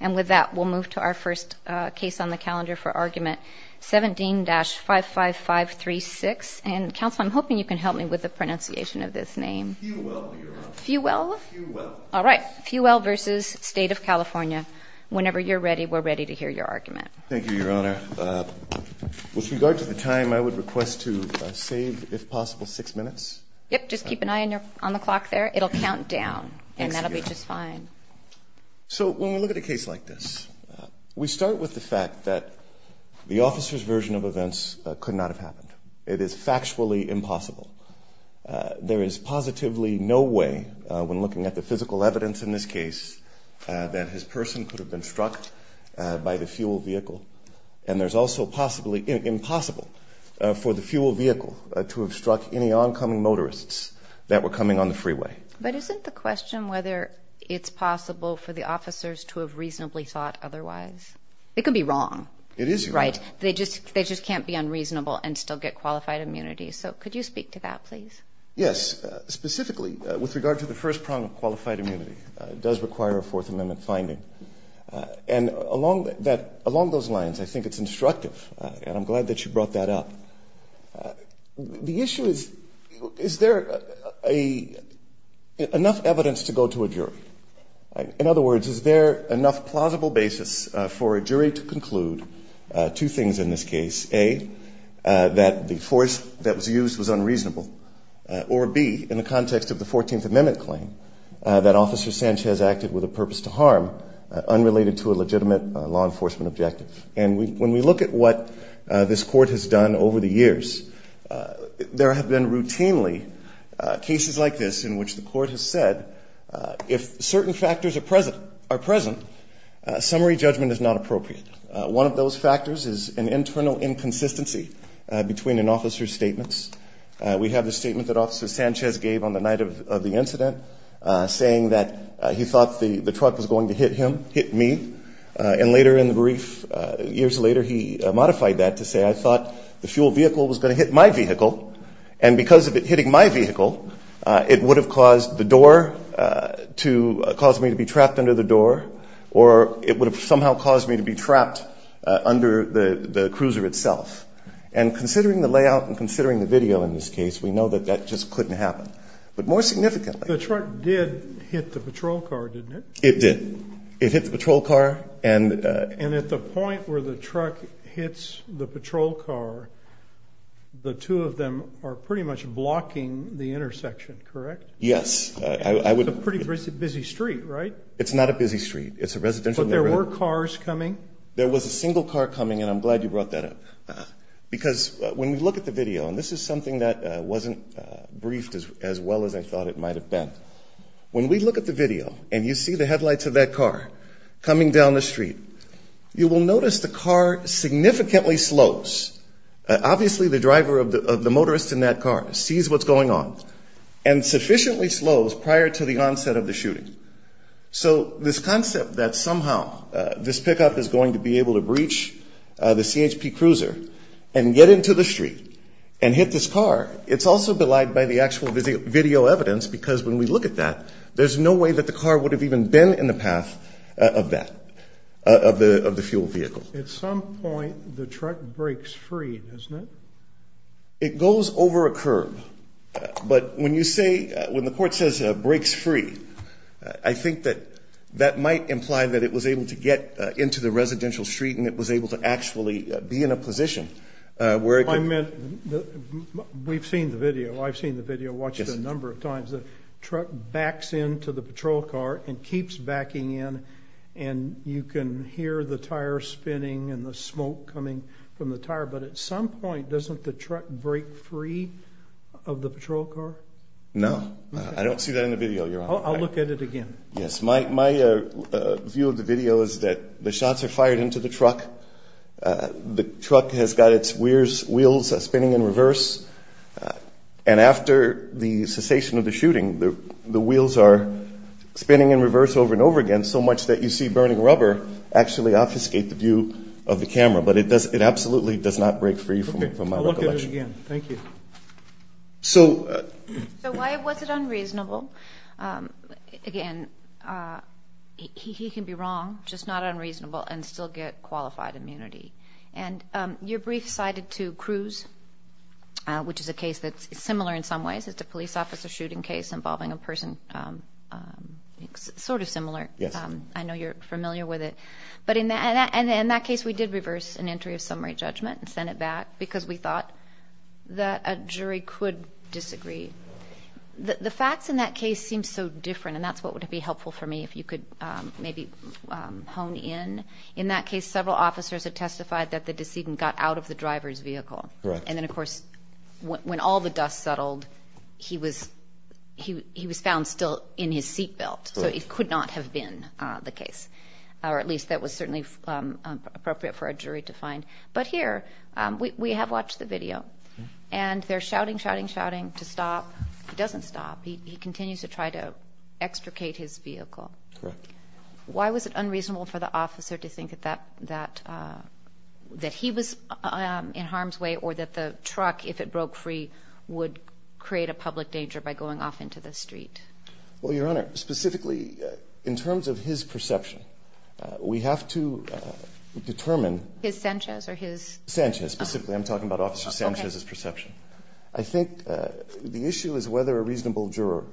And with that, we'll move to our first case on the calendar for argument, 17-55536. And counsel, I'm hoping you can help me with the pronunciation of this name. Fewell, Your Honor. Fewell? Fewell. All right. Fewell v. State of California. Whenever you're ready, we're ready to hear your argument. Thank you, Your Honor. With regard to the time, I would request to save, if possible, six minutes. Yep, just keep an eye on the clock there. It'll count down, and that'll be just fine. So when we look at a case like this, we start with the fact that the officer's version of events could not have happened. It is factually impossible. There is positively no way, when looking at the physical evidence in this case, that his person could have been struck by the fuel vehicle. And there's also possibly impossible for the fuel vehicle to have struck any oncoming motorists that were coming on the freeway. But isn't the question whether it's possible for the officers to have reasonably thought otherwise? It could be wrong. It is wrong. Right. They just can't be unreasonable and still get qualified immunity. So could you speak to that, please? Yes. Specifically, with regard to the first prong of qualified immunity, it does require a Fourth Amendment finding. And along those lines, I think it's instructive, and I'm glad that you brought that up. The issue is, is there enough evidence to go to a jury? In other words, is there enough plausible basis for a jury to conclude two things in this case? A, that the force that was used was unreasonable, or B, in the context of the 14th Amendment claim, that Officer Sanchez acted with a purpose to harm unrelated to a legitimate law enforcement objective. And when we look at what this Court has done over the years, there have been routinely cases like this in which the Court has said, if certain factors are present, summary judgment is not appropriate. One of those factors is an internal inconsistency between an officer's statements. We have the statement that Officer Sanchez gave on the night of the incident, saying that he thought the truck was going to hit him, hit me. And later in the brief, years later, he modified that to say, I thought the fuel vehicle was going to hit my vehicle, and because of it hitting my vehicle, it would have caused the door to, caused me to be trapped under the door, or it would have somehow caused me to be trapped under the cruiser itself. And considering the layout and considering the video in this case, we know that that just couldn't happen. But more significantly. The truck did hit the patrol car, didn't it? It did. It hit the patrol car. And at the point where the truck hits the patrol car, the two of them are pretty much blocking the intersection, correct? Yes. It's a pretty busy street, right? It's not a busy street. It's a residential neighborhood. But there were cars coming? There was a single car coming, and I'm glad you brought that up. Because when we look at the video, and this is something that wasn't briefed as well as I thought it might have been. When we look at the video and you see the headlights of that car coming down the street, you will notice the car significantly slows. Obviously the driver of the motorist in that car sees what's going on and sufficiently slows prior to the onset of the shooting. So this concept that somehow this pickup is going to be able to breach the CHP cruiser and get into the street and hit this car, it's also belied by the actual video evidence because when we look at that, there's no way that the car would have even been in the path of that, of the fuel vehicle. At some point the truck breaks free, doesn't it? It goes over a curb. But when you say, when the court says breaks free, I think that that might imply that it was able to get into the residential street We've seen the video. I've seen the video, watched it a number of times. The truck backs into the patrol car and keeps backing in, and you can hear the tire spinning and the smoke coming from the tire. But at some point doesn't the truck break free of the patrol car? No, I don't see that in the video, Your Honor. I'll look at it again. Yes, my view of the video is that the shots are fired into the truck. The truck has got its wheels spinning in reverse, and after the cessation of the shooting, the wheels are spinning in reverse over and over again, so much that you see burning rubber actually obfuscate the view of the camera. But it absolutely does not break free from my recollection. Okay, I'll look at it again. Thank you. So why was it unreasonable? Again, he can be wrong, just not unreasonable, and still get qualified immunity. And your brief cited to Cruz, which is a case that's similar in some ways. It's a police officer shooting case involving a person sort of similar. I know you're familiar with it. But in that case we did reverse an entry of summary judgment and send it back because we thought that a jury could disagree. The facts in that case seem so different, and that's what would be helpful for me if you could maybe hone in. In that case, several officers had testified that the decedent got out of the driver's vehicle. And then, of course, when all the dust settled, he was found still in his seat belt. So it could not have been the case, or at least that was certainly appropriate for a jury to find. But here, we have watched the video, and they're shouting, shouting, shouting to stop. He doesn't stop. He continues to try to extricate his vehicle. Correct. Why was it unreasonable for the officer to think that he was in harm's way or that the truck, if it broke free, would create a public danger by going off into the street? Well, Your Honor, specifically in terms of his perception, we have to determine. His Sanchez or his? Sanchez, specifically. I'm talking about Officer Sanchez's perception. I think the issue is whether a reasonable juror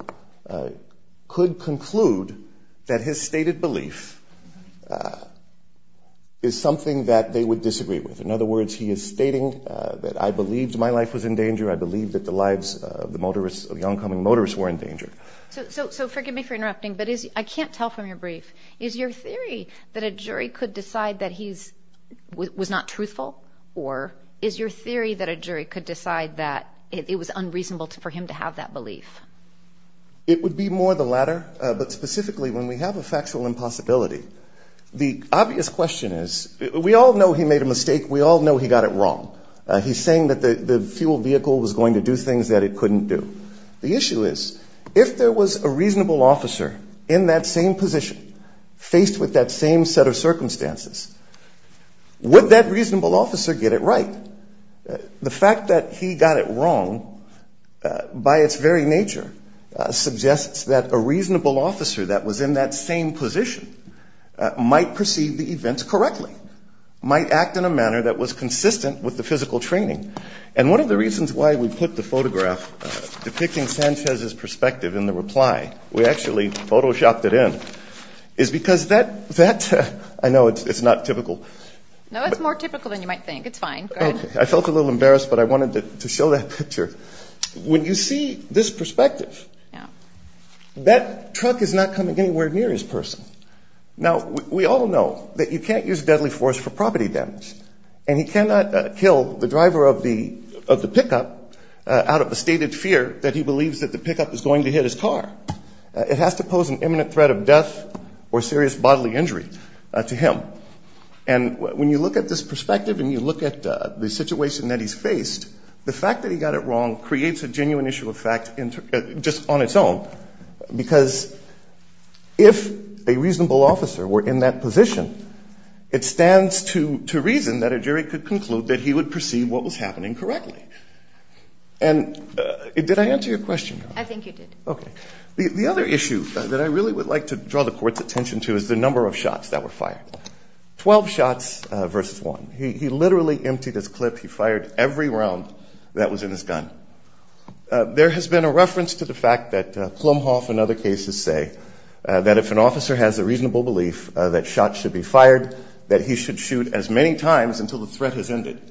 could conclude that his stated belief is something that they would disagree with. In other words, he is stating that I believed my life was in danger. I believed that the lives of the oncoming motorists were in danger. So forgive me for interrupting, but I can't tell from your brief. Is your theory that a jury could decide that he was not truthful? Or is your theory that a jury could decide that it was unreasonable for him to have that belief? It would be more the latter. But specifically, when we have a factual impossibility, the obvious question is, we all know he made a mistake. We all know he got it wrong. He's saying that the fuel vehicle was going to do things that it couldn't do. The issue is, if there was a reasonable officer in that same position, faced with that same set of circumstances, would that reasonable officer get it right? The fact that he got it wrong, by its very nature, suggests that a reasonable officer that was in that same position might perceive the events correctly, might act in a manner that was consistent with the physical training. And one of the reasons why we put the photograph depicting Sanchez's perspective in the reply, we actually photoshopped it in, is because that, I know it's not typical. No, it's more typical than you might think. It's fine. Go ahead. I felt a little embarrassed, but I wanted to show that picture. When you see this perspective, that truck is not coming anywhere near his person. Now, we all know that you can't use deadly force for property damage. And he cannot kill the driver of the pickup out of a stated fear that he believes that the pickup is going to hit his car. It has to pose an imminent threat of death or serious bodily injury to him. And when you look at this perspective and you look at the situation that he's faced, the fact that he got it wrong creates a genuine issue of fact just on its own, because if a reasonable officer were in that position, it stands to reason that a jury could conclude that he would perceive what was happening correctly. And did I answer your question? I think you did. Okay. The other issue that I really would like to draw the Court's attention to is the number of shots that were fired. Twelve shots versus one. He literally emptied his clip. He fired every round that was in his gun. There has been a reference to the fact that Plumhoff and other cases say that if an officer has a reasonable belief that shots should be fired, that he should shoot as many times until the threat has ended.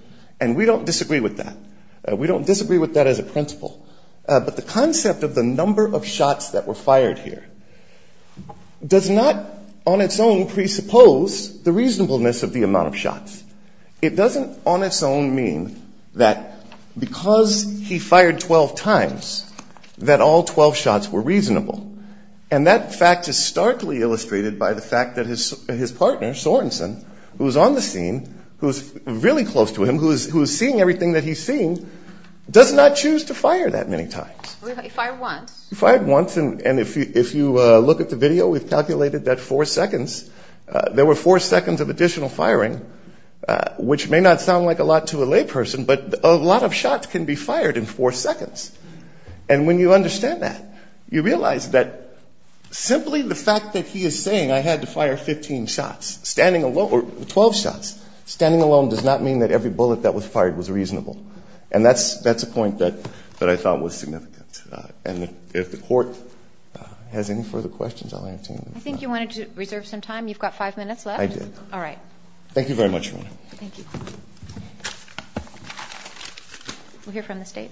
And we don't disagree with that. We don't disagree with that as a principle. But the concept of the number of shots that were fired here does not on its own presuppose the reasonableness of the amount of shots. It doesn't on its own mean that because he fired 12 times that all 12 shots were reasonable. And that fact is starkly illustrated by the fact that his partner, Sorenson, who is on the scene, who is really close to him, who is seeing everything that he's seeing, does not choose to fire that many times. He fired once. He fired once. And if you look at the video, we've calculated that four seconds, there were four seconds of additional firing, which may not sound like a lot to a layperson, but a lot of shots can be fired in four seconds. And when you understand that, you realize that simply the fact that he is saying I had to fire 15 shots, standing alone, or 12 shots, standing alone does not mean that every bullet that was fired was reasonable. And that's a point that I thought was significant. And if the Court has any further questions, I'll answer them. I think you wanted to reserve some time. You've got five minutes left. I did. All right. Thank you very much, Your Honor. Thank you. We'll hear from the State.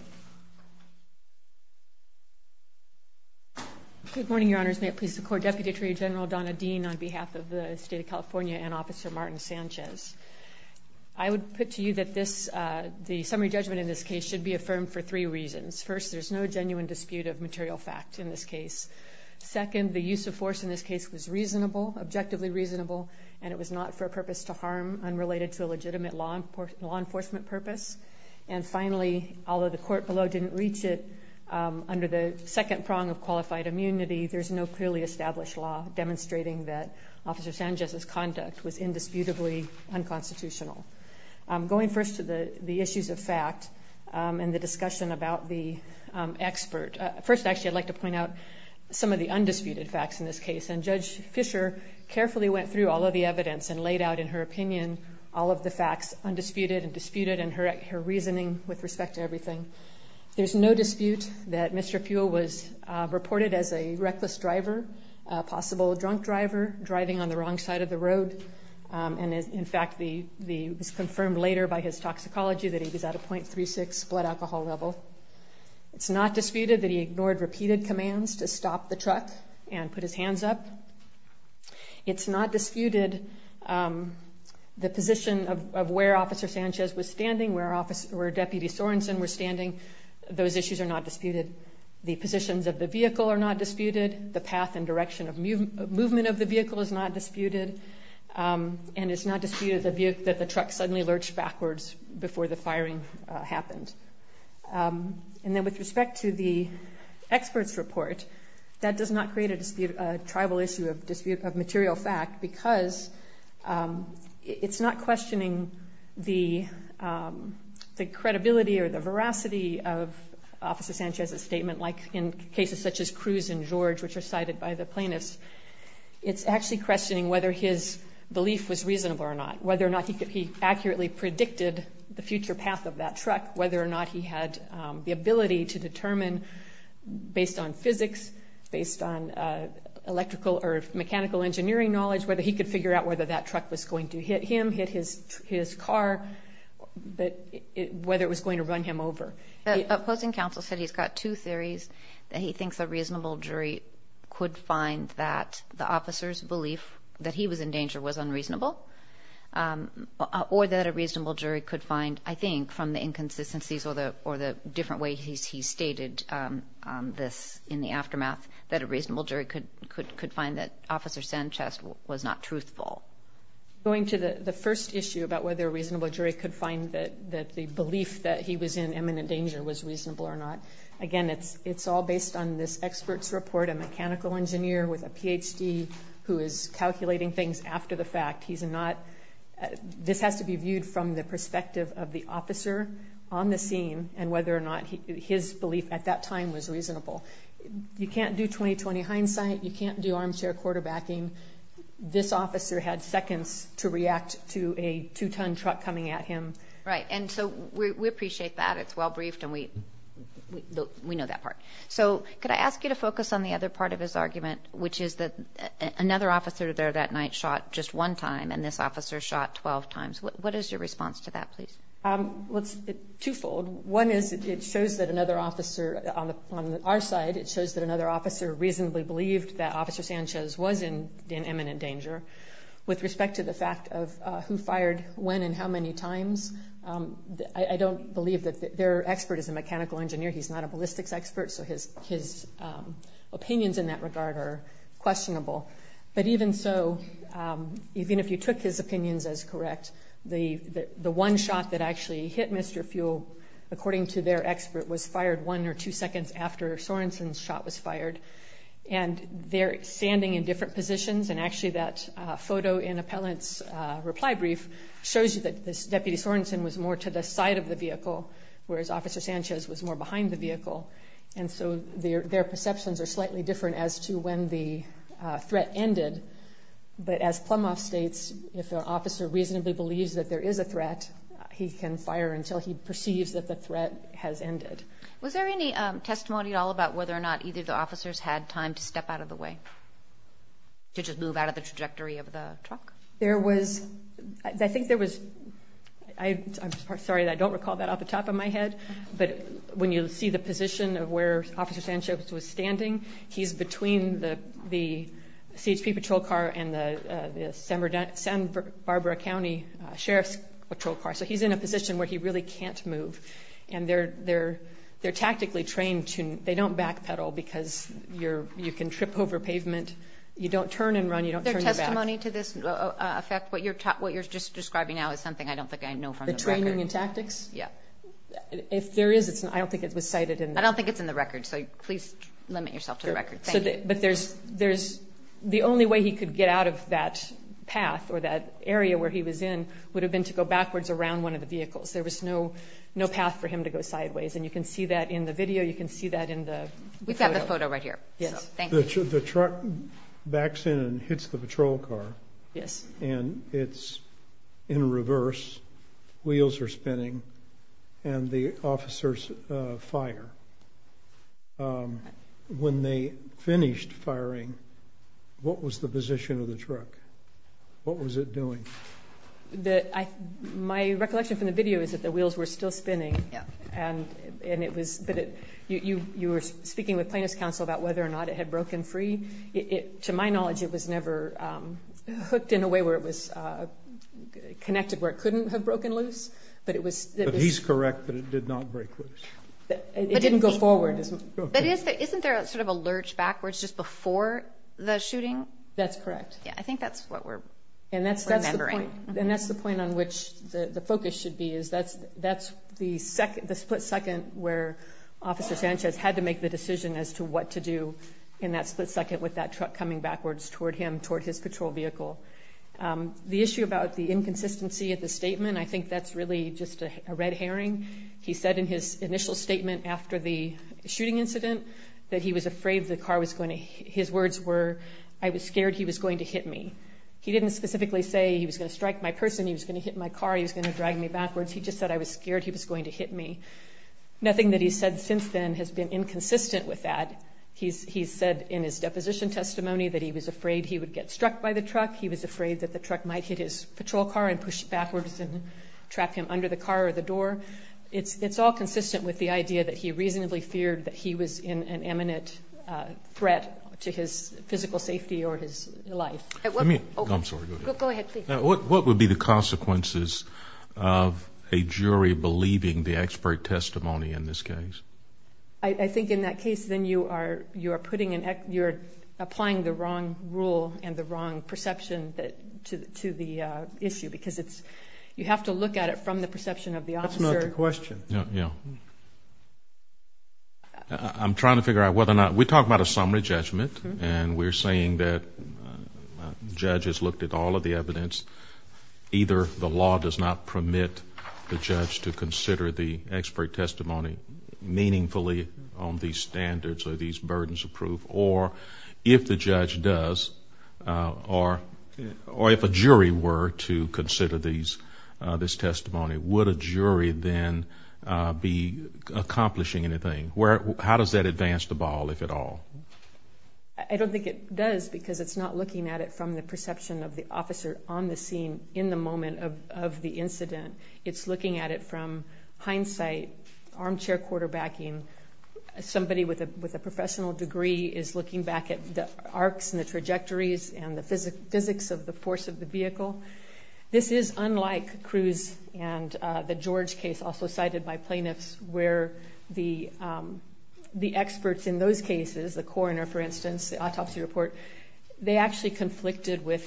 Good morning, Your Honors. May it please the Court. Deputy Attorney General Donna Dean on behalf of the State of California and Officer Martin Sanchez. I would put to you that the summary judgment in this case should be affirmed for three reasons. First, there's no genuine dispute of material fact in this case. Second, the use of force in this case was reasonable, objectively reasonable, and it was not for a purpose to harm unrelated to a legitimate law enforcement purpose. And finally, although the Court below didn't reach it under the second prong of qualified immunity, there's no clearly established law demonstrating that Officer Sanchez's conduct was indisputably unconstitutional. Going first to the issues of fact and the discussion about the expert. First, actually, I'd like to point out some of the undisputed facts in this case, and Judge Fischer carefully went through all of the evidence and laid out in her opinion all of the facts, undisputed and disputed, and her reasoning with respect to everything. There's no dispute that Mr. Pugh was reported as a reckless driver, a possible drunk driver driving on the wrong side of the road, and, in fact, it was confirmed later by his toxicology that he was at a .36 blood alcohol level. It's not disputed that he ignored repeated commands to stop the truck and put his hands up. It's not disputed the position of where Officer Sanchez was standing, where Deputy Sorensen was standing. Those issues are not disputed. The positions of the vehicle are not disputed. The path and direction of movement of the vehicle is not disputed. And it's not disputed that the truck suddenly lurched backwards before the firing happened. And then with respect to the expert's report, that does not create a tribal issue of dispute of material fact because it's not questioning the credibility or the veracity of Officer Sanchez's statement, like in cases such as Cruz and George, which are cited by the plaintiffs. It's actually questioning whether his belief was reasonable or not, whether or not he accurately predicted the future path of that truck, whether or not he had the ability to determine, based on physics, based on electrical or mechanical engineering knowledge, whether he could figure out whether that truck was going to hit him, hit his car, whether it was going to run him over. The opposing counsel said he's got two theories. He thinks a reasonable jury could find that the officer's belief that he was in danger was unreasonable or that a reasonable jury could find, I think, from the inconsistencies or the different way he stated this in the aftermath, that a reasonable jury could find that Officer Sanchez was not truthful. Going to the first issue about whether a reasonable jury could find that the belief that he was in imminent danger was reasonable or not, again, it's all based on this expert's report, a mechanical engineer with a Ph.D. who is calculating things after the fact. This has to be viewed from the perspective of the officer on the scene and whether or not his belief at that time was reasonable. You can't do 20-20 hindsight. You can't do armchair quarterbacking. This officer had seconds to react to a two-ton truck coming at him. Right, and so we appreciate that. It's well briefed, and we know that part. So could I ask you to focus on the other part of his argument, which is that another officer there that night shot just one time, and this officer shot 12 times. What is your response to that, please? Well, it's twofold. One is it shows that another officer on our side, it shows that another officer reasonably believed that Officer Sanchez was in imminent danger. With respect to the fact of who fired when and how many times, I don't believe that their expert is a mechanical engineer. He's not a ballistics expert, so his opinions in that regard are questionable. But even so, even if you took his opinions as correct, the one shot that actually hit Mr. Fuel, according to their expert, was fired one or two seconds after Sorenson's shot was fired. And they're standing in different positions, and actually that photo in Appellant's reply brief shows you that Deputy Sorenson was more to the side of the vehicle, whereas Officer Sanchez was more behind the vehicle. And so their perceptions are slightly different as to when the threat ended. But as Plumhoff states, if an officer reasonably believes that there is a threat, he can fire until he perceives that the threat has ended. Was there any testimony at all about whether or not either of the officers had time to step out of the way, to just move out of the trajectory of the truck? There was. I think there was. I'm sorry that I don't recall that off the top of my head, but when you see the position of where Officer Sanchez was standing, he's between the CHP patrol car and the San Barbara County Sheriff's patrol car. So he's in a position where he really can't move. And they're tactically trained to – they don't backpedal because you can trip over pavement. You don't turn and run. You don't turn your back. Is there testimony to this effect? What you're just describing now is something I don't think I know from the record. The training and tactics? Yeah. If there is, I don't think it was cited in the – I don't think it's in the record, so please limit yourself to the record. But there's – the only way he could get out of that path or that area where he was in would have been to go backwards around one of the vehicles. There was no path for him to go sideways. And you can see that in the video. You can see that in the photo. We've got the photo right here. Yes. Thank you. The truck backs in and hits the patrol car. Yes. And it's in reverse. Wheels are spinning. And the officers fire. When they finished firing, what was the position of the truck? What was it doing? My recollection from the video is that the wheels were still spinning. Yeah. And it was – but you were speaking with plaintiff's counsel about whether or not it had broken free. To my knowledge, it was never hooked in a way where it was connected where it couldn't have broken loose. But it was – But he's correct that it did not break loose. It didn't go forward. But isn't there sort of a lurch backwards just before the shooting? That's correct. Yeah, I think that's what we're remembering. And that's the point on which the focus should be is that's the split second where Officer Sanchez had to make the decision as to what to do in that split second with that truck coming backwards toward him, toward his patrol vehicle. The issue about the inconsistency of the statement, I think that's really just a red herring. He said in his initial statement after the shooting incident that he was afraid the car was going to – his words were, I was scared he was going to hit me. He didn't specifically say he was going to strike my person, he was going to hit my car, he was going to drag me backwards. He just said I was scared he was going to hit me. Nothing that he's said since then has been inconsistent with that. He's said in his deposition testimony that he was afraid he would get struck by the truck. He was afraid that the truck might hit his patrol car and push backwards and trap him under the car or the door. It's all consistent with the idea that he reasonably feared that he was in an imminent threat to his physical safety or his life. Let me – I'm sorry, go ahead. Go ahead, please. What would be the consequences of a jury believing the expert testimony in this case? I think in that case then you are putting – you're applying the wrong rule and the wrong perception to the issue because it's – you have to look at it from the perception of the officer. That's not the question. Yeah. I'm trying to figure out whether or not – we're talking about a summary judgment and we're saying that judges looked at all of the evidence. Either the law does not permit the judge to consider the expert testimony meaningfully on these standards or these burdens of proof or if the judge does or if a jury were to consider this testimony, would a jury then be accomplishing anything? How does that advance the ball, if at all? I don't think it does because it's not looking at it from the perception of the officer on the scene in the moment of the incident. It's looking at it from hindsight, armchair quarterbacking. Somebody with a professional degree is looking back at the arcs and the trajectories and the physics of the force of the vehicle. This is unlike Cruz and the George case, also cited by plaintiffs, where the experts in those cases, the coroner, for instance, the autopsy report, they actually conflicted with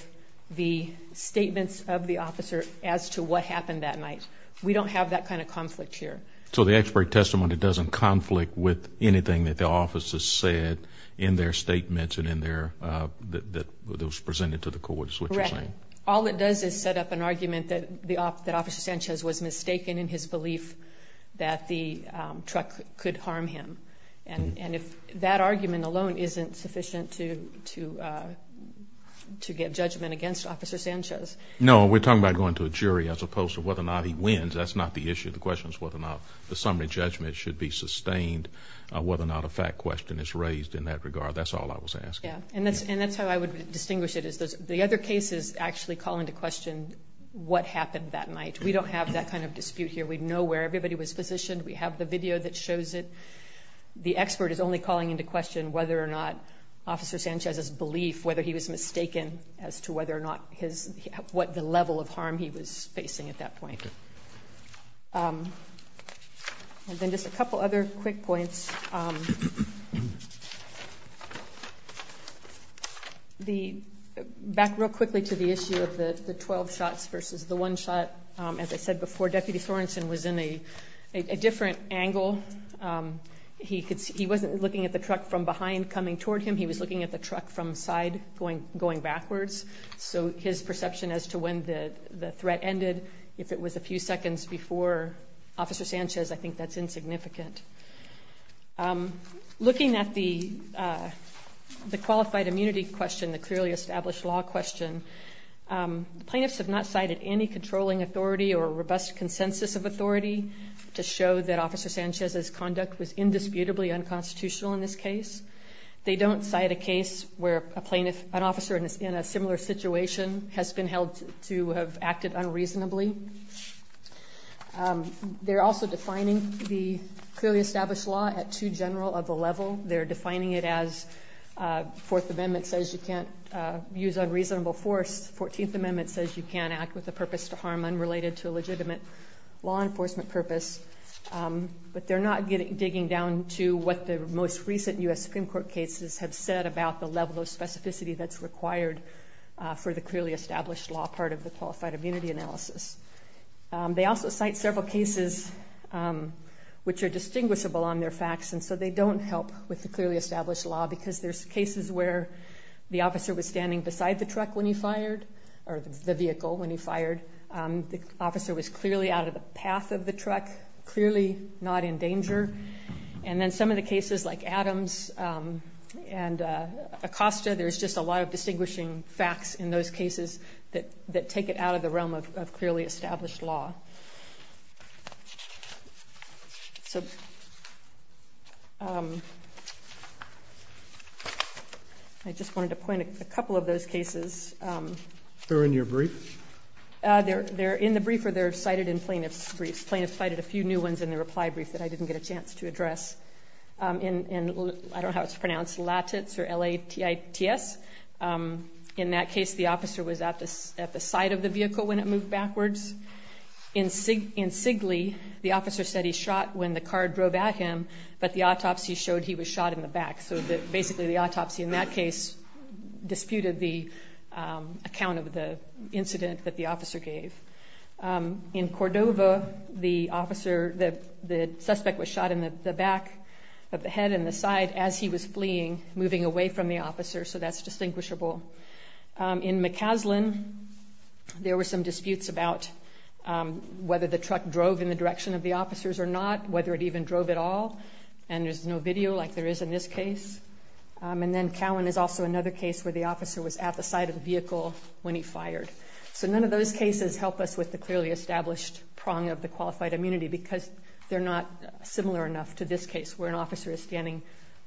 the statements of the officer as to what happened that night. We don't have that kind of conflict here. So the expert testimony doesn't conflict with anything that the officers said in their statements and in their – that was presented to the court? Correct. All it does is set up an argument that Officer Sanchez was mistaken in his belief that the truck could harm him. And if that argument alone isn't sufficient to get judgment against Officer Sanchez. No, we're talking about going to a jury as opposed to whether or not he wins. That's not the issue. The question is whether or not the summary judgment should be sustained, whether or not a fact question is raised in that regard. That's all I was asking. Yeah, and that's how I would distinguish it. The other cases actually call into question what happened that night. We don't have that kind of dispute here. We know where everybody was positioned. We have the video that shows it. The expert is only calling into question whether or not Officer Sanchez's belief, whether he was mistaken as to whether or not his – what the level of harm he was facing at that point. Okay. And then just a couple other quick points. Back real quickly to the issue of the 12 shots versus the one shot. As I said before, Deputy Sorensen was in a different angle. He wasn't looking at the truck from behind coming toward him. He was looking at the truck from side going backwards. So his perception as to when the threat ended, if it was a few seconds before Officer Sanchez, I think that's insignificant. Looking at the qualified immunity question, the clearly established law question, plaintiffs have not cited any controlling authority or robust consensus of authority to show that Officer Sanchez's conduct was indisputably unconstitutional in this case. They don't cite a case where an officer in a similar situation has been held to have acted unreasonably. They're also defining the clearly established law at too general of a level. They're defining it as Fourth Amendment says you can't use unreasonable force. Fourteenth Amendment says you can't act with a purpose to harm unrelated to a legitimate law enforcement purpose. But they're not digging down to what the most recent U.S. Supreme Court cases have said about the level of specificity that's required for the clearly established law part of the qualified immunity analysis. They also cite several cases which are distinguishable on their facts and so they don't help with the clearly established law because there's cases where the officer was standing beside the truck when he fired or the vehicle when he fired. The officer was clearly out of the path of the truck, clearly not in danger. And then some of the cases like Adams and Acosta, there's just a lot of distinguishing facts in those cases that take it out of the realm of clearly established law. I just wanted to point a couple of those cases. They're in your brief? They're in the brief or they're cited in plaintiff's briefs. Plaintiff cited a few new ones in the reply brief that I didn't get a chance to address. I don't know how it's pronounced, Latitz or L-A-T-I-T-S. In that case, the officer was at the side of the vehicle when it moved backwards. In Sigley, the officer said he shot when the car drove at him, but the autopsy showed he was shot in the back. So basically the autopsy in that case disputed the account of the incident that the officer gave. In Cordova, the suspect was shot in the back of the head and the side as he was fleeing, moving away from the officer. So that's distinguishable. In McCaslin, there were some disputes about whether the truck drove in the direction of the officers or not, whether it even drove at all. And there's no video like there is in this case. And then Cowan is also another case where the officer was at the side of the vehicle when he fired. So none of those cases help us with the clearly established prong of the qualified immunity because they're not similar enough to this case where an officer is standing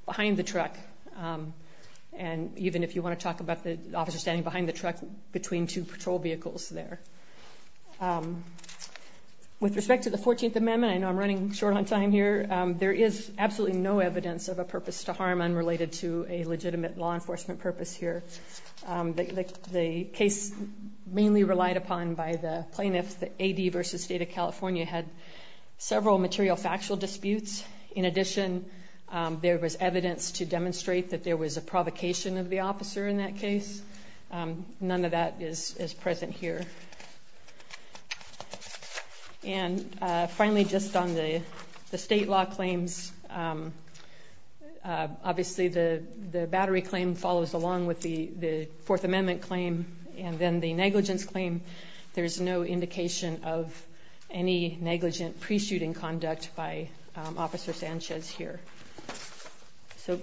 behind the truck. And even if you want to talk about the officer standing behind the truck between two patrol vehicles there. With respect to the 14th Amendment, I know I'm running short on time here, there is absolutely no evidence of a purpose to harm unrelated to a legitimate law enforcement purpose here. The case mainly relied upon by the plaintiffs, the AD v. State of California, had several material factual disputes. In addition, there was evidence to demonstrate that there was a provocation of the officer in that case. None of that is present here. And finally, just on the state law claims, obviously the battery claim follows along with the Fourth Amendment claim. And then the negligence claim, there's no indication of any negligent pre-shooting conduct by Officer Sanchez here. So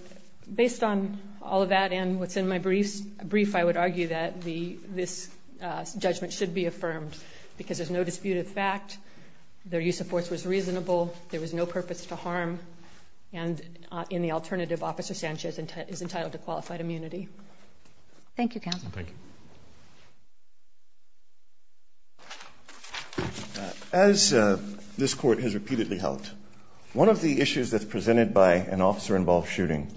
based on all of that and what's in my brief, I would argue that this judgment should be affirmed because there's no dispute of fact. Their use of force was reasonable. There was no purpose to harm. And in the alternative, Officer Sanchez is entitled to qualified immunity. Thank you, Counsel. Thank you. As this Court has repeatedly held, one of the issues that's presented by an officer-involved shooting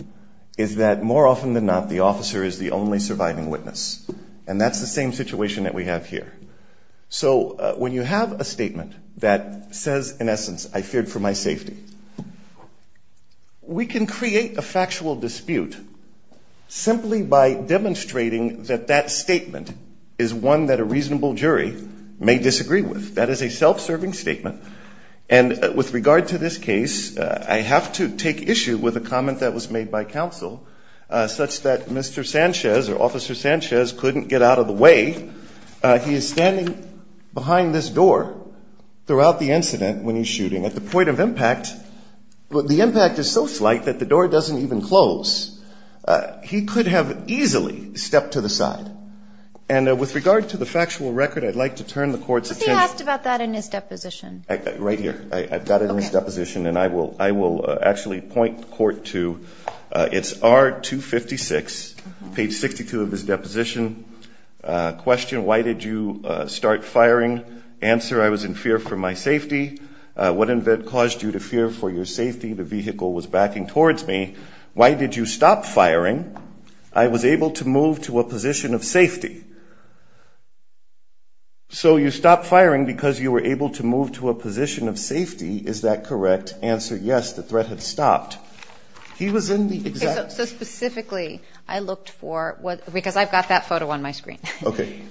is that more often than not, the officer is the only surviving witness. And that's the same situation that we have here. So when you have a statement that says, in essence, I feared for my safety, we can create a factual dispute simply by demonstrating that that statement is one that a reasonable judge or a reasonable jury may disagree with. That is a self-serving statement. And with regard to this case, I have to take issue with a comment that was made by Counsel, such that Mr. Sanchez or Officer Sanchez couldn't get out of the way. He is standing behind this door throughout the incident when he's shooting. At the point of impact, the impact is so slight that the door doesn't even close. He could have easily stepped to the side. And with regard to the factual record, I'd like to turn the Court's attention. But he asked about that in his deposition. Right here. I've got it in his deposition. Okay. And I will actually point the Court to, it's R256, page 62 of his deposition. Question, why did you start firing? Answer, I was in fear for my safety. What in fact caused you to fear for your safety? The vehicle was backing towards me. Why did you stop firing? I was able to move to a position of safety. So you stopped firing because you were able to move to a position of safety. Is that correct? Answer, yes, the threat had stopped. He was in the exact. So specifically, I looked for, because I've got that photo on my screen. Okay.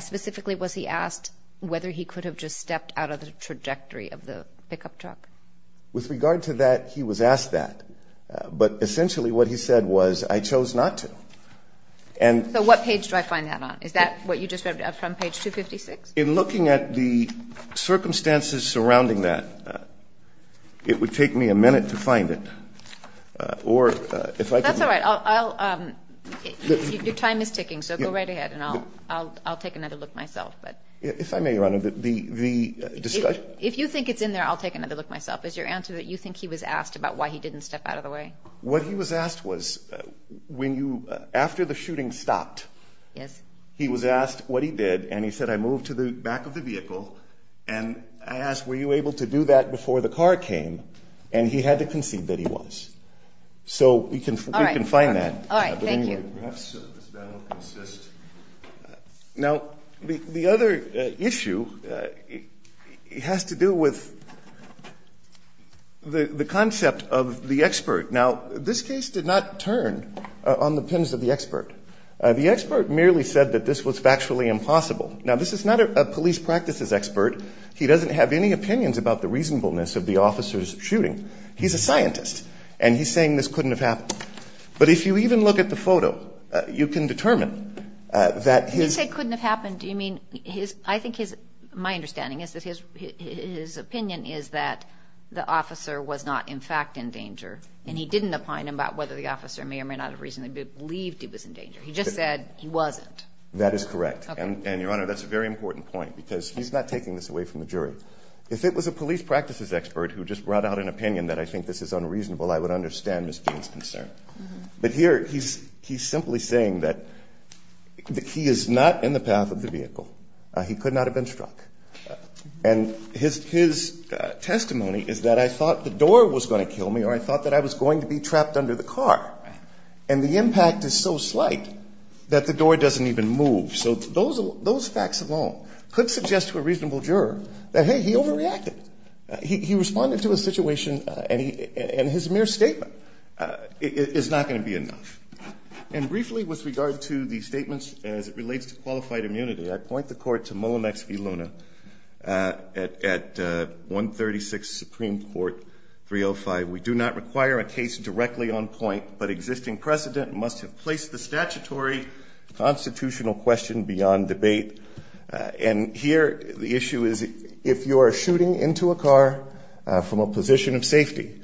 Specifically, was he asked whether he could have just stepped out of the trajectory of the pickup truck? With regard to that, he was asked that. But essentially what he said was, I chose not to. So what page do I find that on? Is that what you just read from page 256? In looking at the circumstances surrounding that, it would take me a minute to find it. That's all right. Your time is ticking, so go right ahead, and I'll take another look myself. If I may, Your Honor, the discussion. If you think it's in there, I'll take another look myself. Is your answer that you think he was asked about why he didn't step out of the way? What he was asked was, after the shooting stopped, he was asked what he did, and he said, I moved to the back of the vehicle, and I asked were you able to do that before the car came, and he had to concede that he was. So we can find that. All right, thank you. Now, the other issue has to do with the concept of the expert. Now, this case did not turn on the pens of the expert. The expert merely said that this was factually impossible. Now, this is not a police practices expert. He doesn't have any opinions about the reasonableness of the officer's shooting. He's a scientist, and he's saying this couldn't have happened. But if you even look at the photo, you can determine that his ---- You say couldn't have happened. Do you mean his ---- I think his ---- my understanding is that his opinion is that the officer was not in fact in danger, and he didn't opine about whether the officer may or may not have reasonably believed he was in danger. He just said he wasn't. That is correct. Okay. And, Your Honor, that's a very important point because he's not taking this away from the jury. If it was a police practices expert who just brought out an opinion that I think this is unreasonable, I would understand Ms. Gein's concern. But here he's simply saying that he is not in the path of the vehicle. He could not have been struck. And his testimony is that I thought the door was going to kill me or I thought that I was going to be trapped under the car. And the impact is so slight that the door doesn't even move. So those facts alone could suggest to a reasonable juror that, hey, he overreacted. He responded to a situation and his mere statement is not going to be enough. And briefly with regard to the statements as it relates to qualified immunity, I point the Court to Mullinex v. Luna at 136 Supreme Court 305. We do not require a case directly on point, but existing precedent must have placed the statutory constitutional question beyond debate. And here the issue is if you are shooting into a car from a position of safety,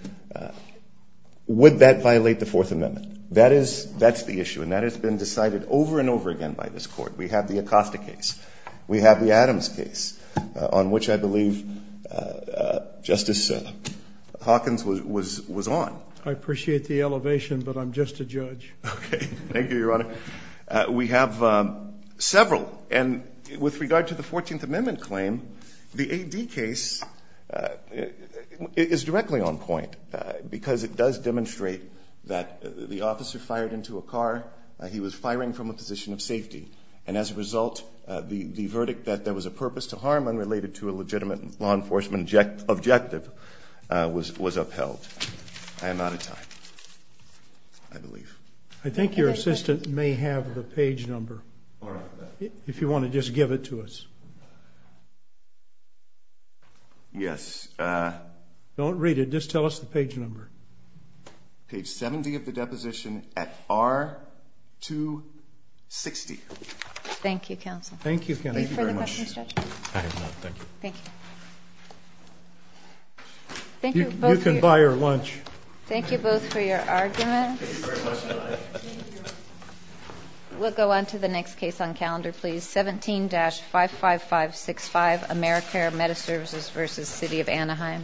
would that violate the Fourth Amendment? That is the issue and that has been decided over and over again by this Court. We have the Acosta case. We have the Adams case on which I believe Justice Hawkins was on. I appreciate the elevation, but I'm just a judge. Okay. Thank you, Your Honor. We have several. And with regard to the Fourteenth Amendment claim, the A.D. case is directly on point because it does demonstrate that the officer fired into a car. He was firing from a position of safety. And as a result, the verdict that there was a purpose to harm unrelated to a legitimate law enforcement objective was upheld. I am out of time, I believe. I think your assistant may have the page number if you want to just give it to us. Yes. Don't read it. Just tell us the page number. Page 70 of the deposition at R260. Thank you, counsel. Thank you, counsel. Thank you very much. Thank you. You can buy her lunch. Thank you both for your arguments. Thank you very much, Your Honor. Thank you, Your Honor. We'll go on to the next case on calendar, please. 17-55565, AmeriCare Meta Services v. City of Anaheim.